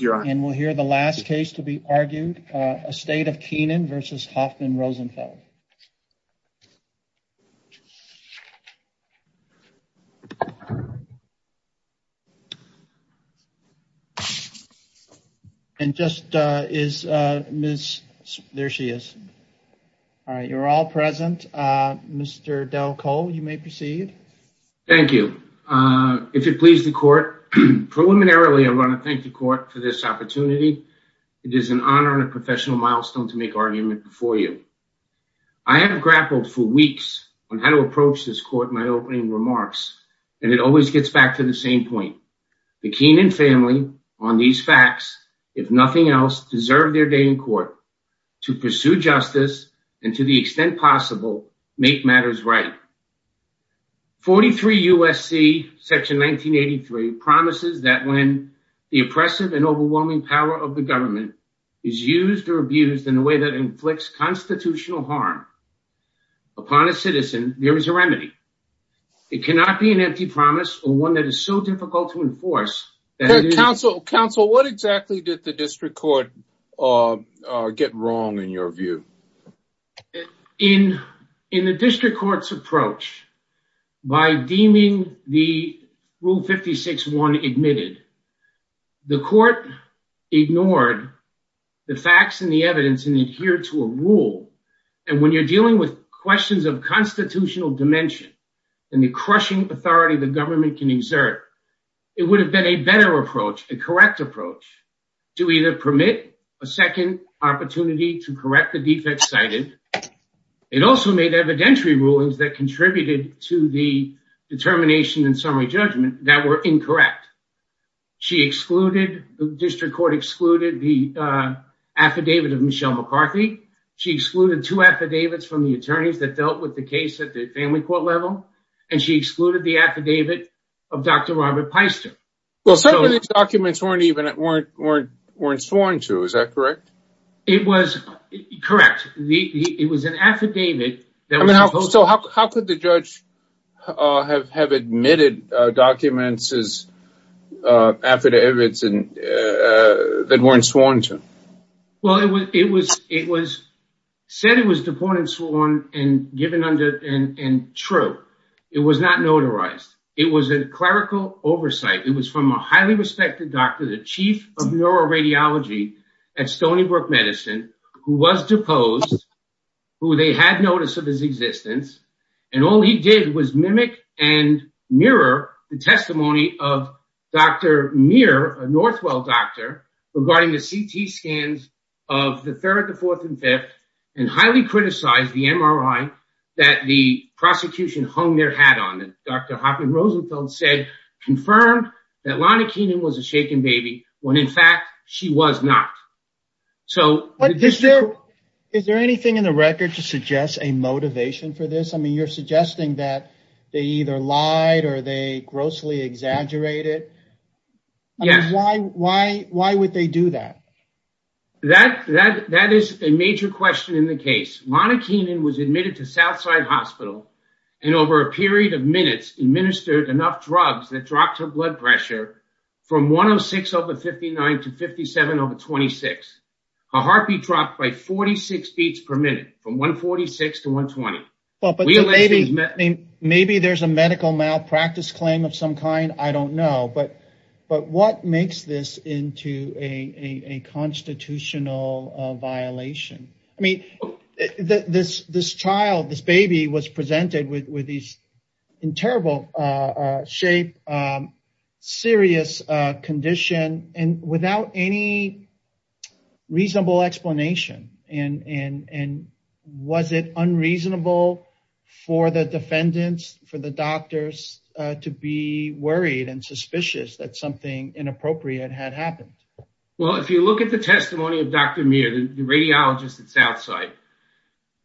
and we'll hear the last case to be argued, a state of Keenan versus Hoffman Rosenfeld. And just is Ms. there she is. All right you're all present. Mr. Del Cole you may proceed. Thank you. If it pleases the court, preliminarily I want to thank the court for this opportunity. It is an honor and a professional milestone to make argument before you. I have grappled for weeks on how to approach this court in my opening remarks and it always gets back to the same point. The Keenan family on these facts, if nothing else, deserve their day in court to pursue justice and to the extent possible make matters right. 43 USC section 1983 promises that when the oppressive and overwhelming power of the government is used or abused in a way that inflicts constitutional harm upon a citizen, there is a remedy. It cannot be an empty promise or one that is so difficult to enforce. Counsel, counsel, what exactly did the district court get wrong in your view? In the district court's approach, by deeming the rule 56-1 admitted, the court ignored the facts and the evidence and adhered to a rule. And when you're dealing with questions of constitutional dimension and the crushing authority the government can exert, it would have been a better approach, a correct approach, to either permit a second opportunity to correct the defects cited. It also made evidentiary rulings that contributed to the determination and summary judgment that were incorrect. She excluded, the district court excluded, the affidavit of Michelle McCarthy. She excluded two affidavits from the attorneys that dealt with the case at the family court level and she excluded the affidavit of Dr. Robert Peister. Well some of these documents weren't sworn to, is that correct? It was correct. It was an affidavit. So how could the judge have admitted documents as affidavits that weren't sworn to? Well it was said it was deported and sworn and given under and true. It was not notarized. It was a clerical oversight. It was from a highly respected doctor, the chief of neuroradiology at Stony Brook Medicine, who was deposed, who they had notice of his existence, and all he did was mimic and mirror the testimony of Dr. Muir, a Northwell doctor, regarding the CT scans of the third, the fourth, and fifth, and highly criticized the MRI that the prosecution hung their hat on. Dr. Hopkins-Rosenfeld said, confirmed that Lana Keenan was a shaken baby when in fact she was not. So is there anything in the record to suggest a motivation for this? I mean you're suggesting that they either lied or they grossly exaggerated. Yes. Why would they do that? That is a major question in the case. Lana Keenan was admitted to Southside Hospital and over a period of minutes administered enough drugs that dropped her blood pressure from 106 over 59 to 57 over 26. Her heartbeat dropped by 46 beats per minute from 146 to 120. Maybe there's a medical malpractice claim of some kind, I don't know, but what makes this into a constitutional violation? I was presented with these in terrible shape, serious condition, and without any reasonable explanation. And was it unreasonable for the defendants, for the doctors, to be worried and suspicious that something inappropriate had happened? Well if you look at the testimony of Dr. Muir, the radiologist at Southside,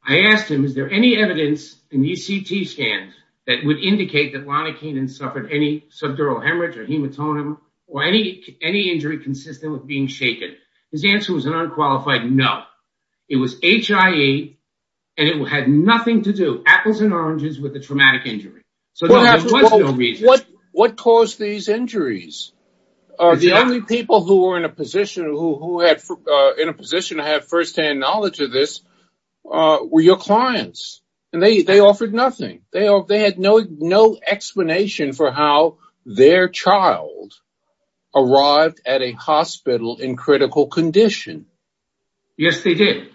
I had a CT scan that would indicate that Lana Keenan suffered any subdural hemorrhage or hematoma or any any injury consistent with being shaken. His answer was an unqualified no. It was HIE and it had nothing to do, apples and oranges, with a traumatic injury. So there was no reason. What caused these injuries? The only people who were in a position who had first-hand knowledge of this were your clients. And they offered nothing. They had no explanation for how their child arrived at a hospital in critical condition. Yes they did.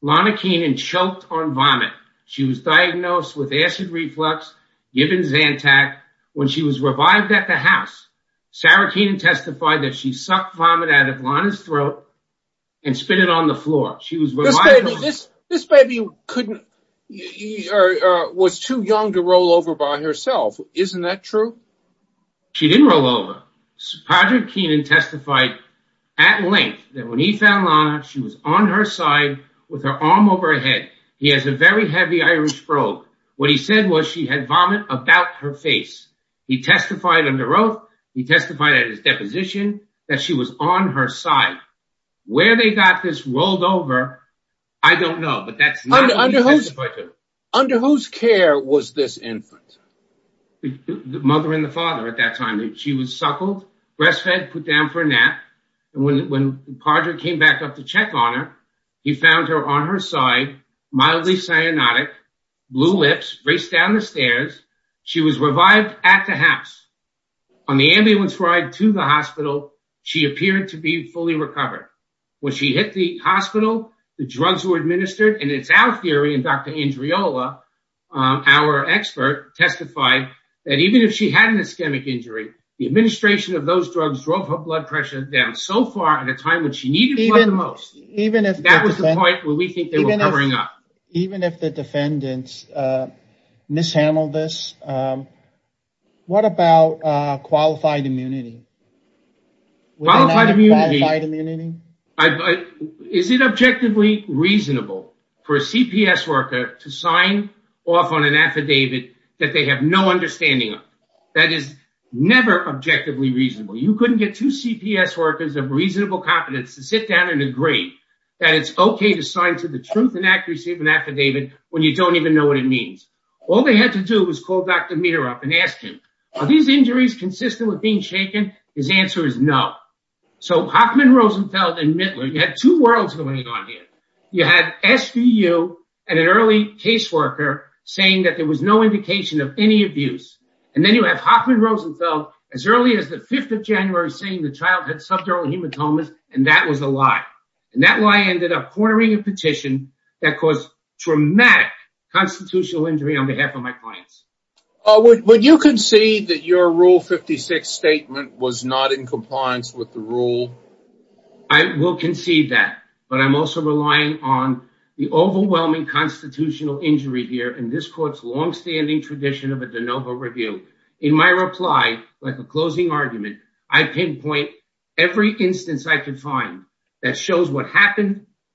Lana Keenan choked on vomit. She was diagnosed with acid reflux, given Zantac. When she was revived at the house, Sarah Keenan testified that she sucked vomit out of Lana's throat and spit it on the floor. This baby was too young to roll over by herself. Isn't that true? She didn't roll over. Padraig Keenan testified at length that when he found Lana, she was on her side with her arm over her head. He has a very heavy Irish probe. What he said was she had vomit about her face. He testified under oath. He testified at his deposition that she was on her side. Where they got this rolled over, I don't know, but that's not what he testified to. Under whose care was this infant? The mother and the father at that time. She was suckled, breastfed, put down for a nap. And when Padraig came back up to check on her, he found her on her side, mildly cyanotic, blue lips, raced down the stairs. She was revived at the house. On the ambulance ride to the hospital, she appeared to be fully recovered. When she hit the hospital, the drugs were administered. And it's our theory, and Dr. Andreola, our expert, testified that even if she had an ischemic injury, the administration of those drugs drove her blood pressure down so far at a time when she needed blood the most. That was the point where we think they were What about qualified immunity? Is it objectively reasonable for a CPS worker to sign off on an affidavit that they have no understanding of? That is never objectively reasonable. You couldn't get two CPS workers of reasonable competence to sit down and agree that it's okay to sign to the truth and accuracy of an affidavit when you don't even know what it means. All they had to do was call Dr. Meter up and ask him, are these injuries consistent with being shaken? His answer is no. So Hockman, Rosenfeld, and Mittler, you had two worlds going on here. You had SVU and an early caseworker saying that there was no indication of any abuse. And then you have Hockman, Rosenfeld, as early as the 5th of January saying the child had subdural hematomas, and that was a lie. And that lie ended up cornering a petition that caused traumatic constitutional injury on behalf of my clients. Would you concede that your Rule 56 statement was not in compliance with the rule? I will concede that, but I'm also relying on the overwhelming constitutional injury here in this court's longstanding tradition of a de novo review. In my reply, like a closing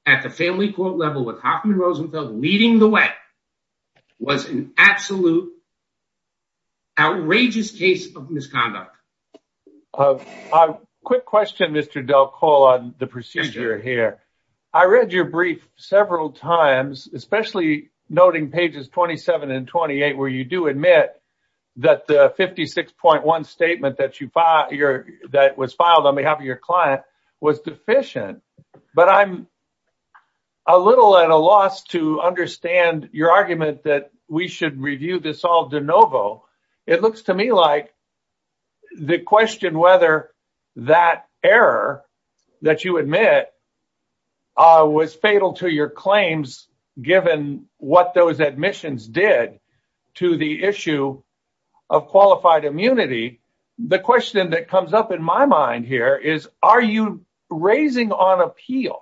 a family court level with Hockman, Rosenfeld leading the way, was an absolute, outrageous case of misconduct. Quick question, Mr. Delcol on the procedure here. I read your brief several times, especially noting pages 27 and 28, where you do admit that the 56.1 statement that was filed on a little at a loss to understand your argument that we should review this all de novo. It looks to me like the question whether that error that you admit was fatal to your claims given what those admissions did to the issue of qualified immunity. The question that comes up in my mind here is, are you raising on appeal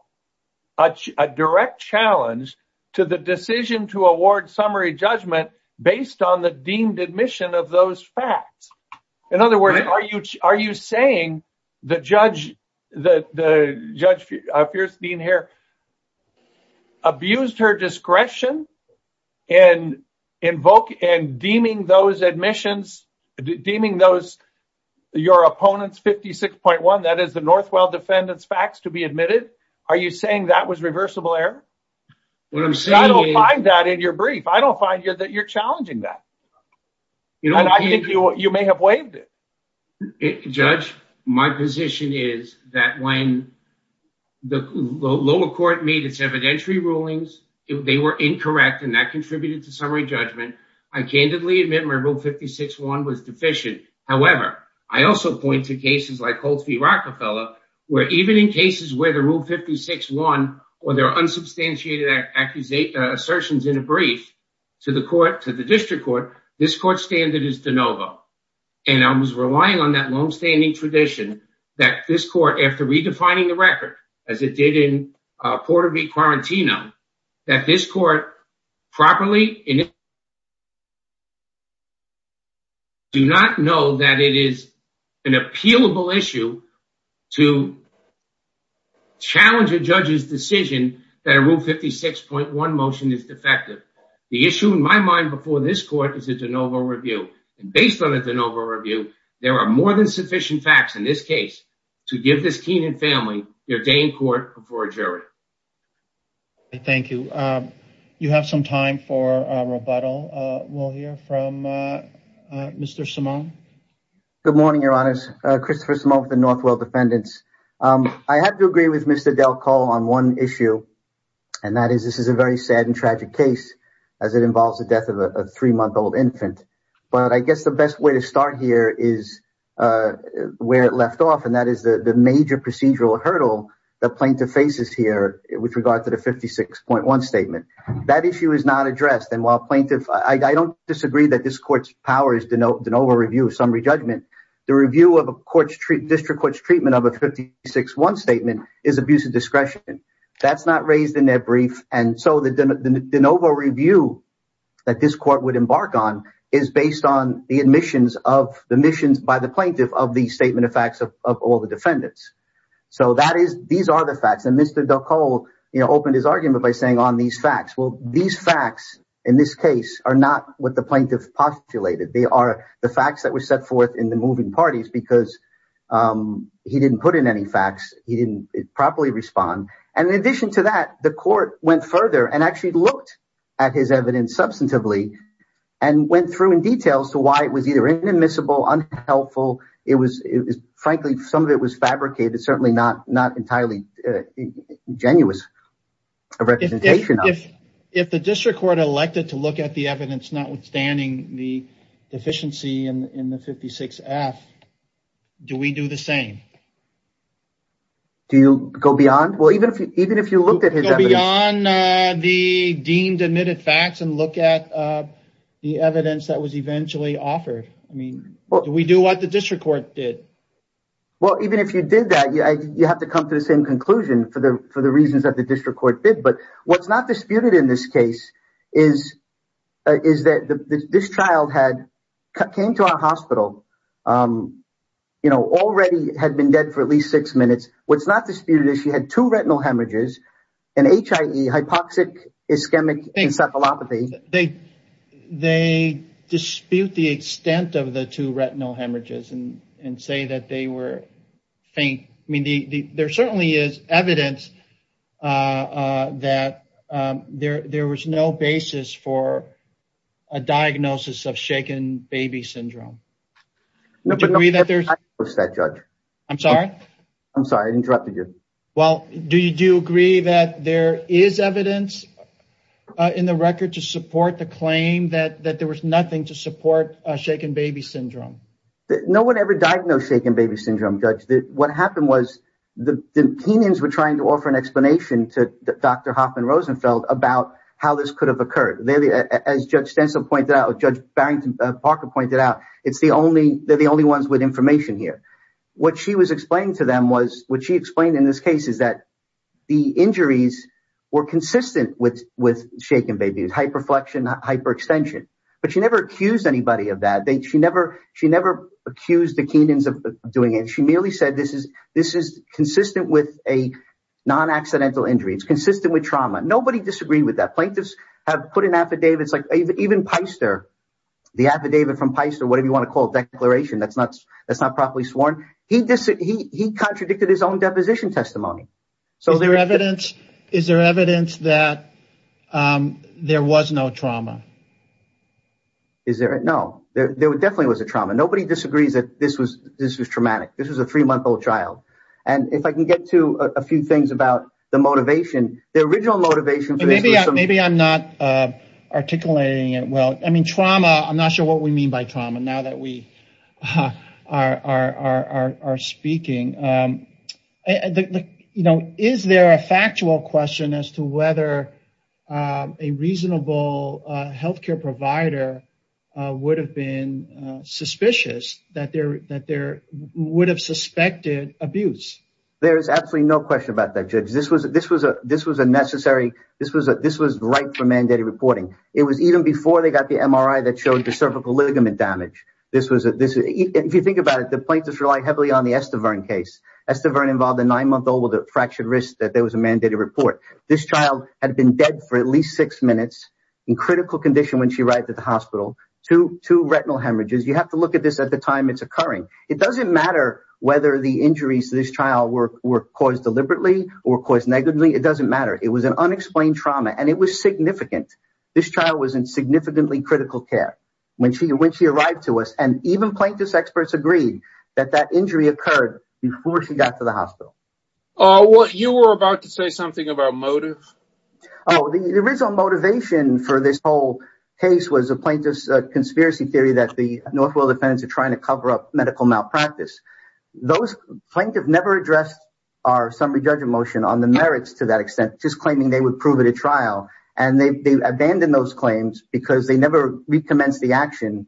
a direct challenge to the decision to award summary judgment based on the deemed admission of those facts? In other words, are you saying the judge, the judge appears being here, abused her discretion and invoke and deeming those admissions, deeming those, your opponents 56.1, that is the Northwell defendants facts to be admitted. Are you saying that was reversible error? I don't find that in your brief. I don't find you that you're challenging that. And I think you may have slaved it. Judge, my position is that when the lower court made its evidentiary rulings, they were incorrect. And that contributed to summary judgment. I candidly admit my rule 56.1 was deficient. However, I also point to cases like Colts v Rockefeller, where even in cases where the rule 56.1 or there are unsubstantiated accusations, assertions in the brief to the court, to the district court, this court standard is de novo. And I was relying on that longstanding tradition that this court, after redefining the record as it did in Porter v Quarantino, that this court properly do not know that it is an appealable issue to challenge a judge's decision that a rule 56.1 motion is defective. The issue in my mind before this court is a de novo review. And based on a de novo review, there are more than sufficient facts in this case to give this Keenan family their day in court before a jury. Thank you. You have some time for rebuttal. We'll hear from Mr. Simone. Good morning, Your Honors. Christopher Simone with the Northwell Defendants. I have to agree with Mr. Del Col on one issue, and that is this is a very sad and tragic case as it involves the death of a three-month-old infant. But I guess the best way to start here is where it left off, and that is the major procedural hurdle the plaintiff faces here with regard to the 56.1 statement. That issue is not addressed. And while plaintiff, I don't disagree that this court's power is de novo review of summary judgment, the review of a district court's treatment of a 56.1 statement is abuse of discretion. That's not raised in their brief. And so the de novo review that this court would embark on is based on the admissions by the plaintiff of the statement of facts of all the defendants. So these are the facts. And Mr. Del Col opened his argument by on these facts. Well, these facts in this case are not what the plaintiff postulated. They are the facts that were set forth in the moving parties because he didn't put in any facts. He didn't properly respond. And in addition to that, the court went further and actually looked at his evidence substantively and went through in detail as to why it was either inadmissible, unhelpful. It was frankly, some of it was fabricated, certainly not entirely genuine representation. If the district court elected to look at the evidence, notwithstanding the deficiency in the 56 F, do we do the same? Do you go beyond? Well, even if you looked at the deemed admitted facts and look at the evidence that was eventually offered, I mean, we do what the district court did. Well, even if you did that, you have to come to the same conclusion for the reasons that the district court did. But what's not disputed in this case is that this child had came to our hospital, you know, already had been dead for at least six minutes. What's not disputed is she had two retinal hemorrhages and HIE hypoxic ischemic encephalopathy. They dispute the extent of the two retinal hemorrhages and say that they were evidence that there was no basis for a diagnosis of shaken baby syndrome. I'm sorry. I'm sorry I interrupted you. Well, do you agree that there is evidence in the record to support the claim that there was nothing to support a shaken baby syndrome? No one ever diagnosed shaken baby syndrome. What happened was the Kenyans were trying to offer an explanation to Dr. Hoffman Rosenfeld about how this could have occurred. As Judge Stenson pointed out, Judge Barrington Parker pointed out, it's the only they're the only ones with information here. What she was explaining to them was what she explained in this case is that the injuries were consistent with with shaken babies, hyperflexion, hyperextension. But she accused anybody of that. She never accused the Kenyans of doing it. She merely said this is consistent with a non-accidental injury. It's consistent with trauma. Nobody disagreed with that. Plaintiffs have put an affidavit. It's like even Peister, the affidavit from Peister, whatever you want to call it, declaration that's not that's not properly sworn. He contradicted his own deposition testimony. Is there evidence that there was no trauma? Is there? No, there definitely was a trauma. Nobody disagrees that this was this was traumatic. This was a three-month-old child. If I can get to a few things about the motivation, the original motivation. Maybe I'm not articulating it well. I mean, trauma, I'm not sure what we mean by trauma now that we are speaking. Is there a factual question as to whether a reasonable health care provider would have been suspicious that there would have suspected abuse? There is absolutely no question about that, Judge. This was a necessary. This was right for mandated reporting. It was even before they got the MRI that showed the cervical ligament damage. If you think about it, the plaintiffs rely heavily on the Estevern case. Estevern involved a fractured wrist that there was a mandated report. This child had been dead for at least six minutes in critical condition when she arrived at the hospital. Two retinal hemorrhages. You have to look at this at the time it's occurring. It doesn't matter whether the injuries of this child were caused deliberately or caused negatively. It doesn't matter. It was an unexplained trauma and it was significant. This child was in significantly critical care when she when she arrived to us and even plaintiffs experts agreed that that injury occurred before she got to the hospital. You were about to say something about motive. The original motivation for this whole case was a plaintiff's conspiracy theory that the Northwell defendants are trying to cover up medical malpractice. Those plaintiffs never addressed our summary judgment motion on the merits to that extent, just claiming they would prove it at trial. They abandoned those claims because they never recommenced the action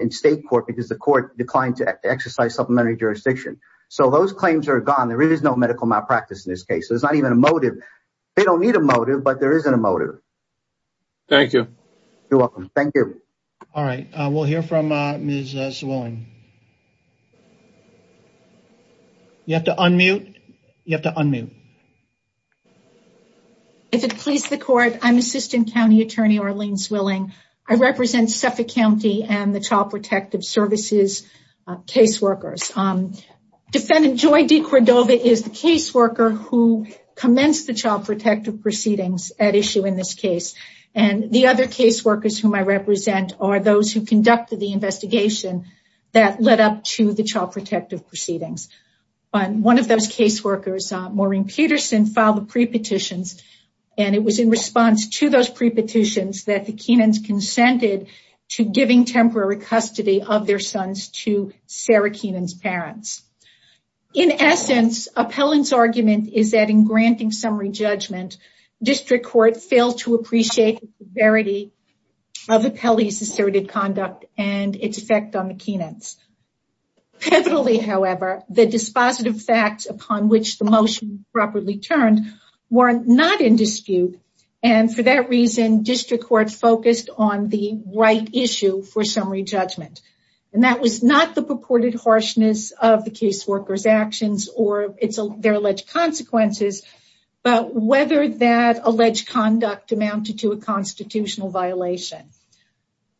in state court because the court declined to exercise supplementary jurisdiction. So those claims are gone. There is no medical malpractice in this case. There's not even a motive. They don't need a motive, but there isn't a motive. Thank you. You're welcome. Thank you. All right. We'll hear from Ms. Zwilling. You have to unmute. You have to unmute. If it pleases the court, I'm Assistant County Attorney Arlene Zwilling. I represent Suffolk County and the Child Protective Services caseworkers. Defendant Joy DeCordova is the caseworker who commenced the child protective proceedings at issue in this case. The other caseworkers whom I represent are those who conducted the investigation that led up to the child protective proceedings. One of those caseworkers, Maureen Peterson, filed the pre-petitions and it was in response to those pre-petitions that the Kenans consented to giving temporary custody of their sons to Sarah Kenan's parents. In essence, Appellant's argument is that in granting summary judgment, district court failed to appreciate the severity of Appellee's asserted conduct and its effect on the Kenans. Petally, however, the dispositive facts upon which the motion was properly turned were not in dispute. And for that reason, district court focused on the right issue for summary judgment. And that was not the purported harshness of the caseworker's actions or their alleged consequences, but whether that alleged conduct amounted to a constitutional violation.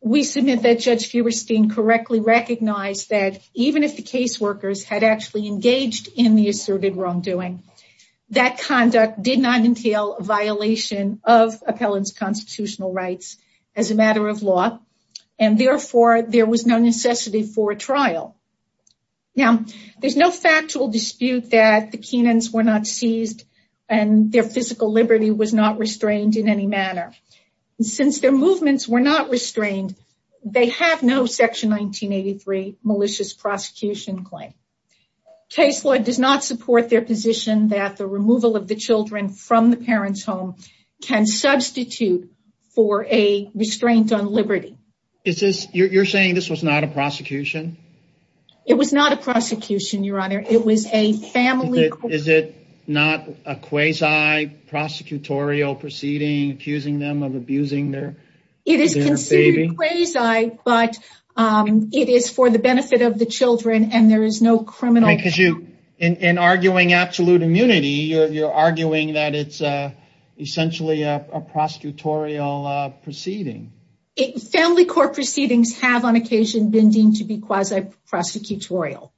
We submit that Judge Feberstein correctly recognized that even if the caseworkers had actually engaged in the asserted wrongdoing, that conduct did not entail a violation of Appellant's constitutional rights as a matter of law. And therefore, there was no necessity for a trial. Now, there's no factual dispute that the Kenans were not seized and their physical was not restrained in any manner. And since their movements were not restrained, they have no section 1983 malicious prosecution claim. Case law does not support their position that the removal of the children from the parent's home can substitute for a restraint on liberty. Is this, you're saying this was not a prosecution? It was not a prosecution, your honor. It was a family. Is it not a quasi-prosecutorial proceeding, accusing them of abusing their baby? It is considered quasi, but it is for the benefit of the children and there is no criminal. Because you, in arguing absolute immunity, you're arguing that it's essentially a prosecutorial proceeding. Family court have on occasion been deemed to be quasi-prosecutorial.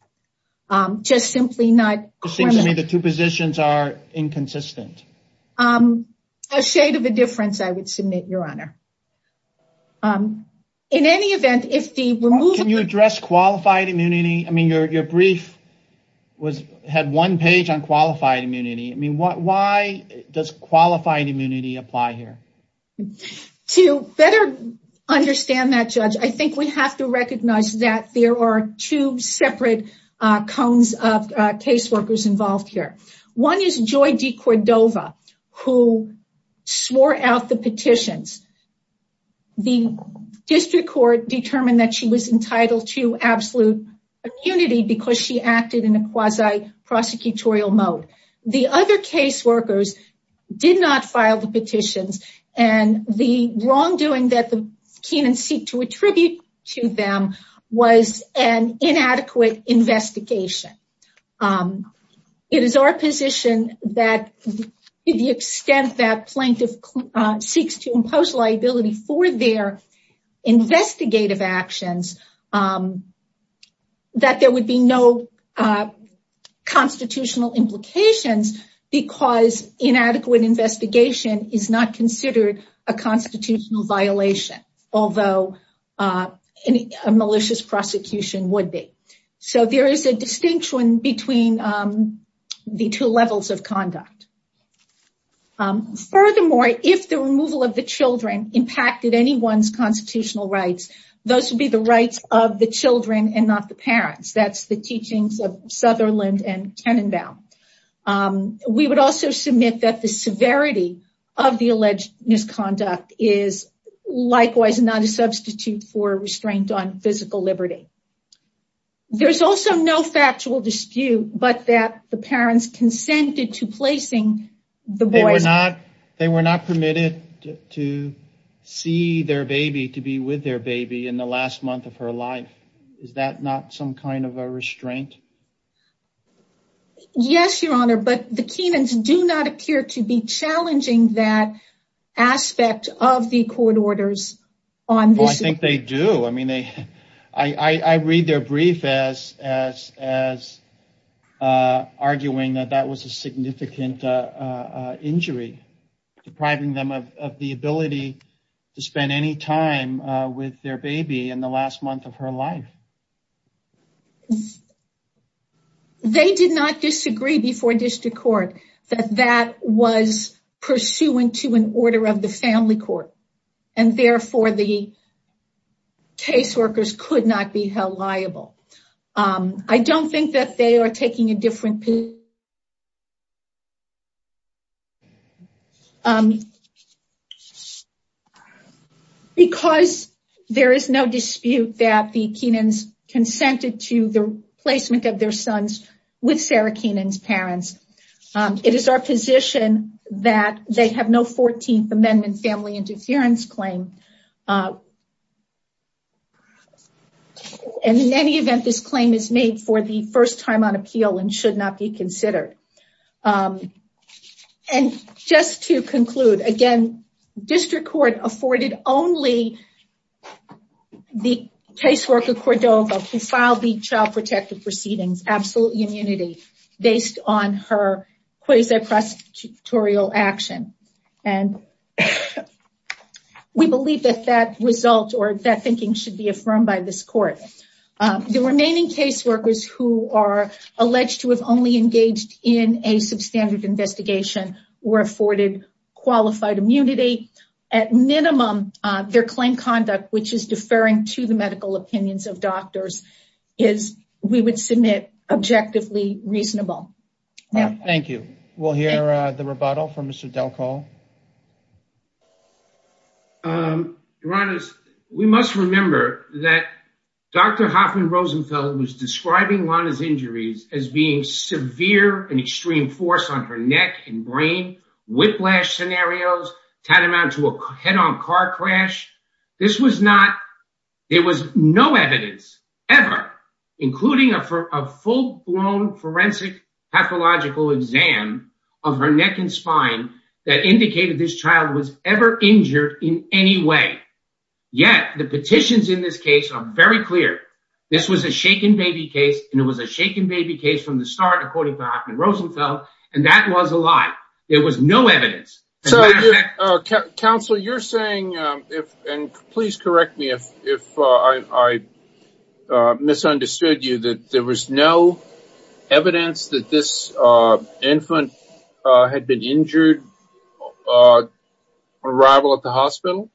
Just simply not... The two positions are inconsistent. A shade of a difference, I would submit, your honor. In any event, if the removal... Can you address qualified immunity? I mean, your brief had one page on qualified immunity. I mean, why does qualified immunity apply here? To better understand that, judge, I think we have to recognize that there are two separate cones of case workers involved here. One is Joy DeCordova, who swore out the petitions. The district court determined that she was entitled to absolute immunity because she acted in a quasi-prosecutorial mode. The other case workers did not file the petitions and the wrongdoing that the Kenan seek to attribute to them was an inadequate investigation. It is our position that to the extent that plaintiff seeks to impose liability for their investigative actions, that there would be no constitutional implications because inadequate investigation is not considered a constitutional violation, although a malicious prosecution would be. So there is a distinction between the two levels of conduct. Furthermore, if the removal of the children impacted anyone's constitutional rights, those would be the rights of the children and not the parents. That's the teachings of Sutherland and Kenan Bell. We would also submit that the severity of the alleged misconduct is likewise not a substitute for restraint on physical liberty. There's also no factual dispute, but that the parents consented to placing the they were not permitted to see their baby to be with their baby in the last month of her life. Is that not some kind of a restraint? Yes, Your Honor, but the Kenans do not appear to be challenging that aspect of the court orders. I think they do. I mean, I read their brief as arguing that that was a significant injury depriving them of the ability to spend any time with their baby in the last month of her life. They did not disagree before district court that that was pursuant to an order of the family court and therefore the caseworkers could not be held liable. I don't think that they are taking a different because there is no dispute that the Kenans consented to the placement of their sons with Sarah Kenan's parents. It is our position that they have no 14th amendment family interference claim. In any event, this claim is made for the first time on appeal and should not be considered. And just to conclude again, district court afforded only the caseworker Cordova who based on her quasi prosecutorial action. And we believe that that result or that thinking should be affirmed by this court. The remaining caseworkers who are alleged to have only engaged in a substandard investigation were afforded qualified immunity. At minimum, their claim conduct, which is deferring to the medical opinions of doctors, is, we would submit, objectively reasonable. Thank you. We'll hear the rebuttal from Mr. Delcol. We must remember that Dr. Hoffman Rosenfeld was describing Lana's injuries as being severe and extreme force on her neck and brain, whiplash scenarios, tantamount to a head-on car crash. This was not, there was no evidence ever, including a full-blown forensic pathological exam of her neck and spine that indicated this child was ever injured in any way. Yet the petitions in this case are very clear. This was a shaken baby case and it was a shaken baby case from the start, according to Hoffman Rosenfeld. And that was a lie. There was no evidence. So, Counsel, you're saying, and please correct me if I misunderstood you, that there was no evidence that this infant had been injured on arrival at the hospital?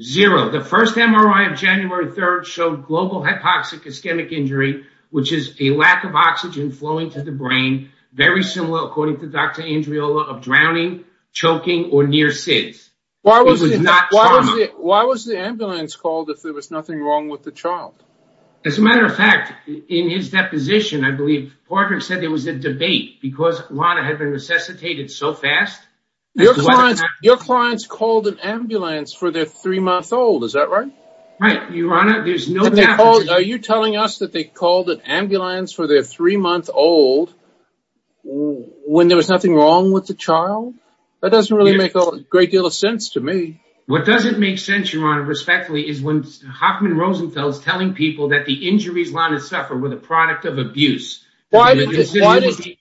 Zero. The first MRI of January 3rd showed global hypoxic ischemic injury, which is a lack of oxygen flowing to the brain, very similar, according to Dr. Andreola, of drowning, choking, or near SIDS. Why was the ambulance called if there was nothing wrong with the child? As a matter of fact, in his deposition, I believe, Parker said there was a debate because Lana had been resuscitated so fast. Your clients called an ambulance for their three-month-old, is that right? Right. Your Honor, there's no doubt. Are you telling us that they called an ambulance for their three-month-old when there was nothing wrong with the child? That doesn't really make a great deal of sense to me. What doesn't make sense, Your Honor, respectfully, is when Hoffman Rosenfeld is telling people that the injuries Lana suffered were the product of abuse. Why did the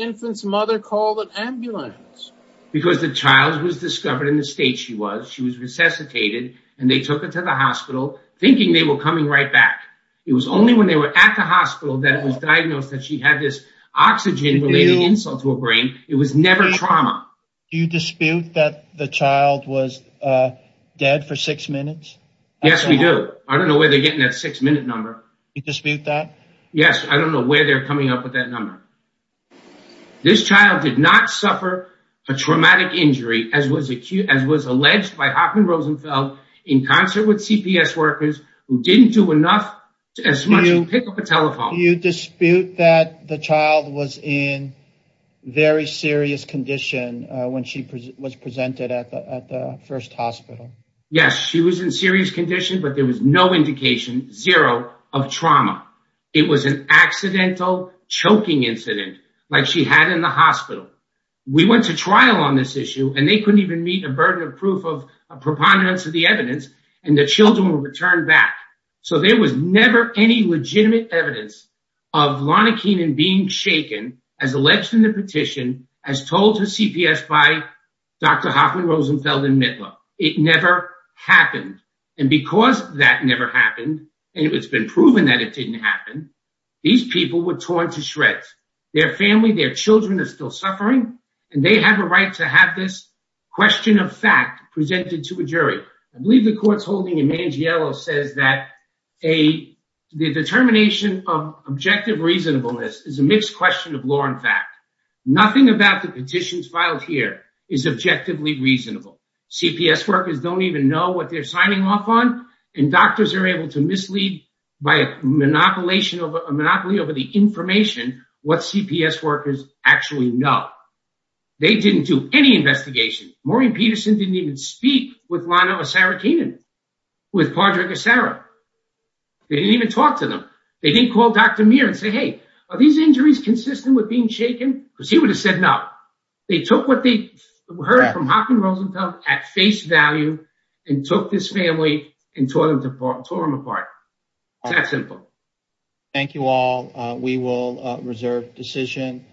infant's mother call an ambulance? Because the child was discovered in the state she was. She was resuscitated and they took her to the hospital thinking they were coming right back. It was only when they were at the hospital that it was diagnosed that she had this oxygen-related insult to her brain. It was never trauma. Do you dispute that the child was dead for six minutes? Yes, we do. I don't know where they're getting that six-minute number. You dispute that? Yes, I don't know where they're coming up with that number. This child did not suffer a traumatic injury as was alleged by Hoffman Rosenfeld in concert with CPS workers who didn't do enough to pick up a telephone. Do you dispute that the child was in very serious condition when she was presented at the first hospital? Yes, she was in serious condition, but there was no indication, zero, of trauma. It was an accidental choking incident like she had in the hospital. We went to trial on this issue and they couldn't even meet a burden of proof of a preponderance of the evidence and the children were returned back. So there was never any legitimate evidence of Lona Keenan being shaken as alleged in the petition, as told to CPS by Dr. Hoffman Rosenfeld and Mitler. It never happened and because that never happened and it's been proven that it didn't happen, these people were torn to shreds. Their family, their children are still suffering and they have a right to have this question of fact presented to a jury. I believe the court's holding, Eman Gielo says that the determination of objective reasonableness is a mixed question of law and fact. Nothing about the petitions filed here is objectively reasonable. CPS workers don't even know what they're signing off on and doctors are able to mislead by a monopoly over the information what CPS workers actually know. They didn't do any investigation. Maureen Peterson didn't even speak with Lana Osara Keenan, with Padraig Osara. They didn't even talk to them. They didn't call Dr. Meir and say, hey, are these injuries consistent with being shaken? Because he would have said no. They took what they heard from Hockney Rosenthal at face value and took this family and tore them apart. It's that simple. Thank you all. We will reserve decision.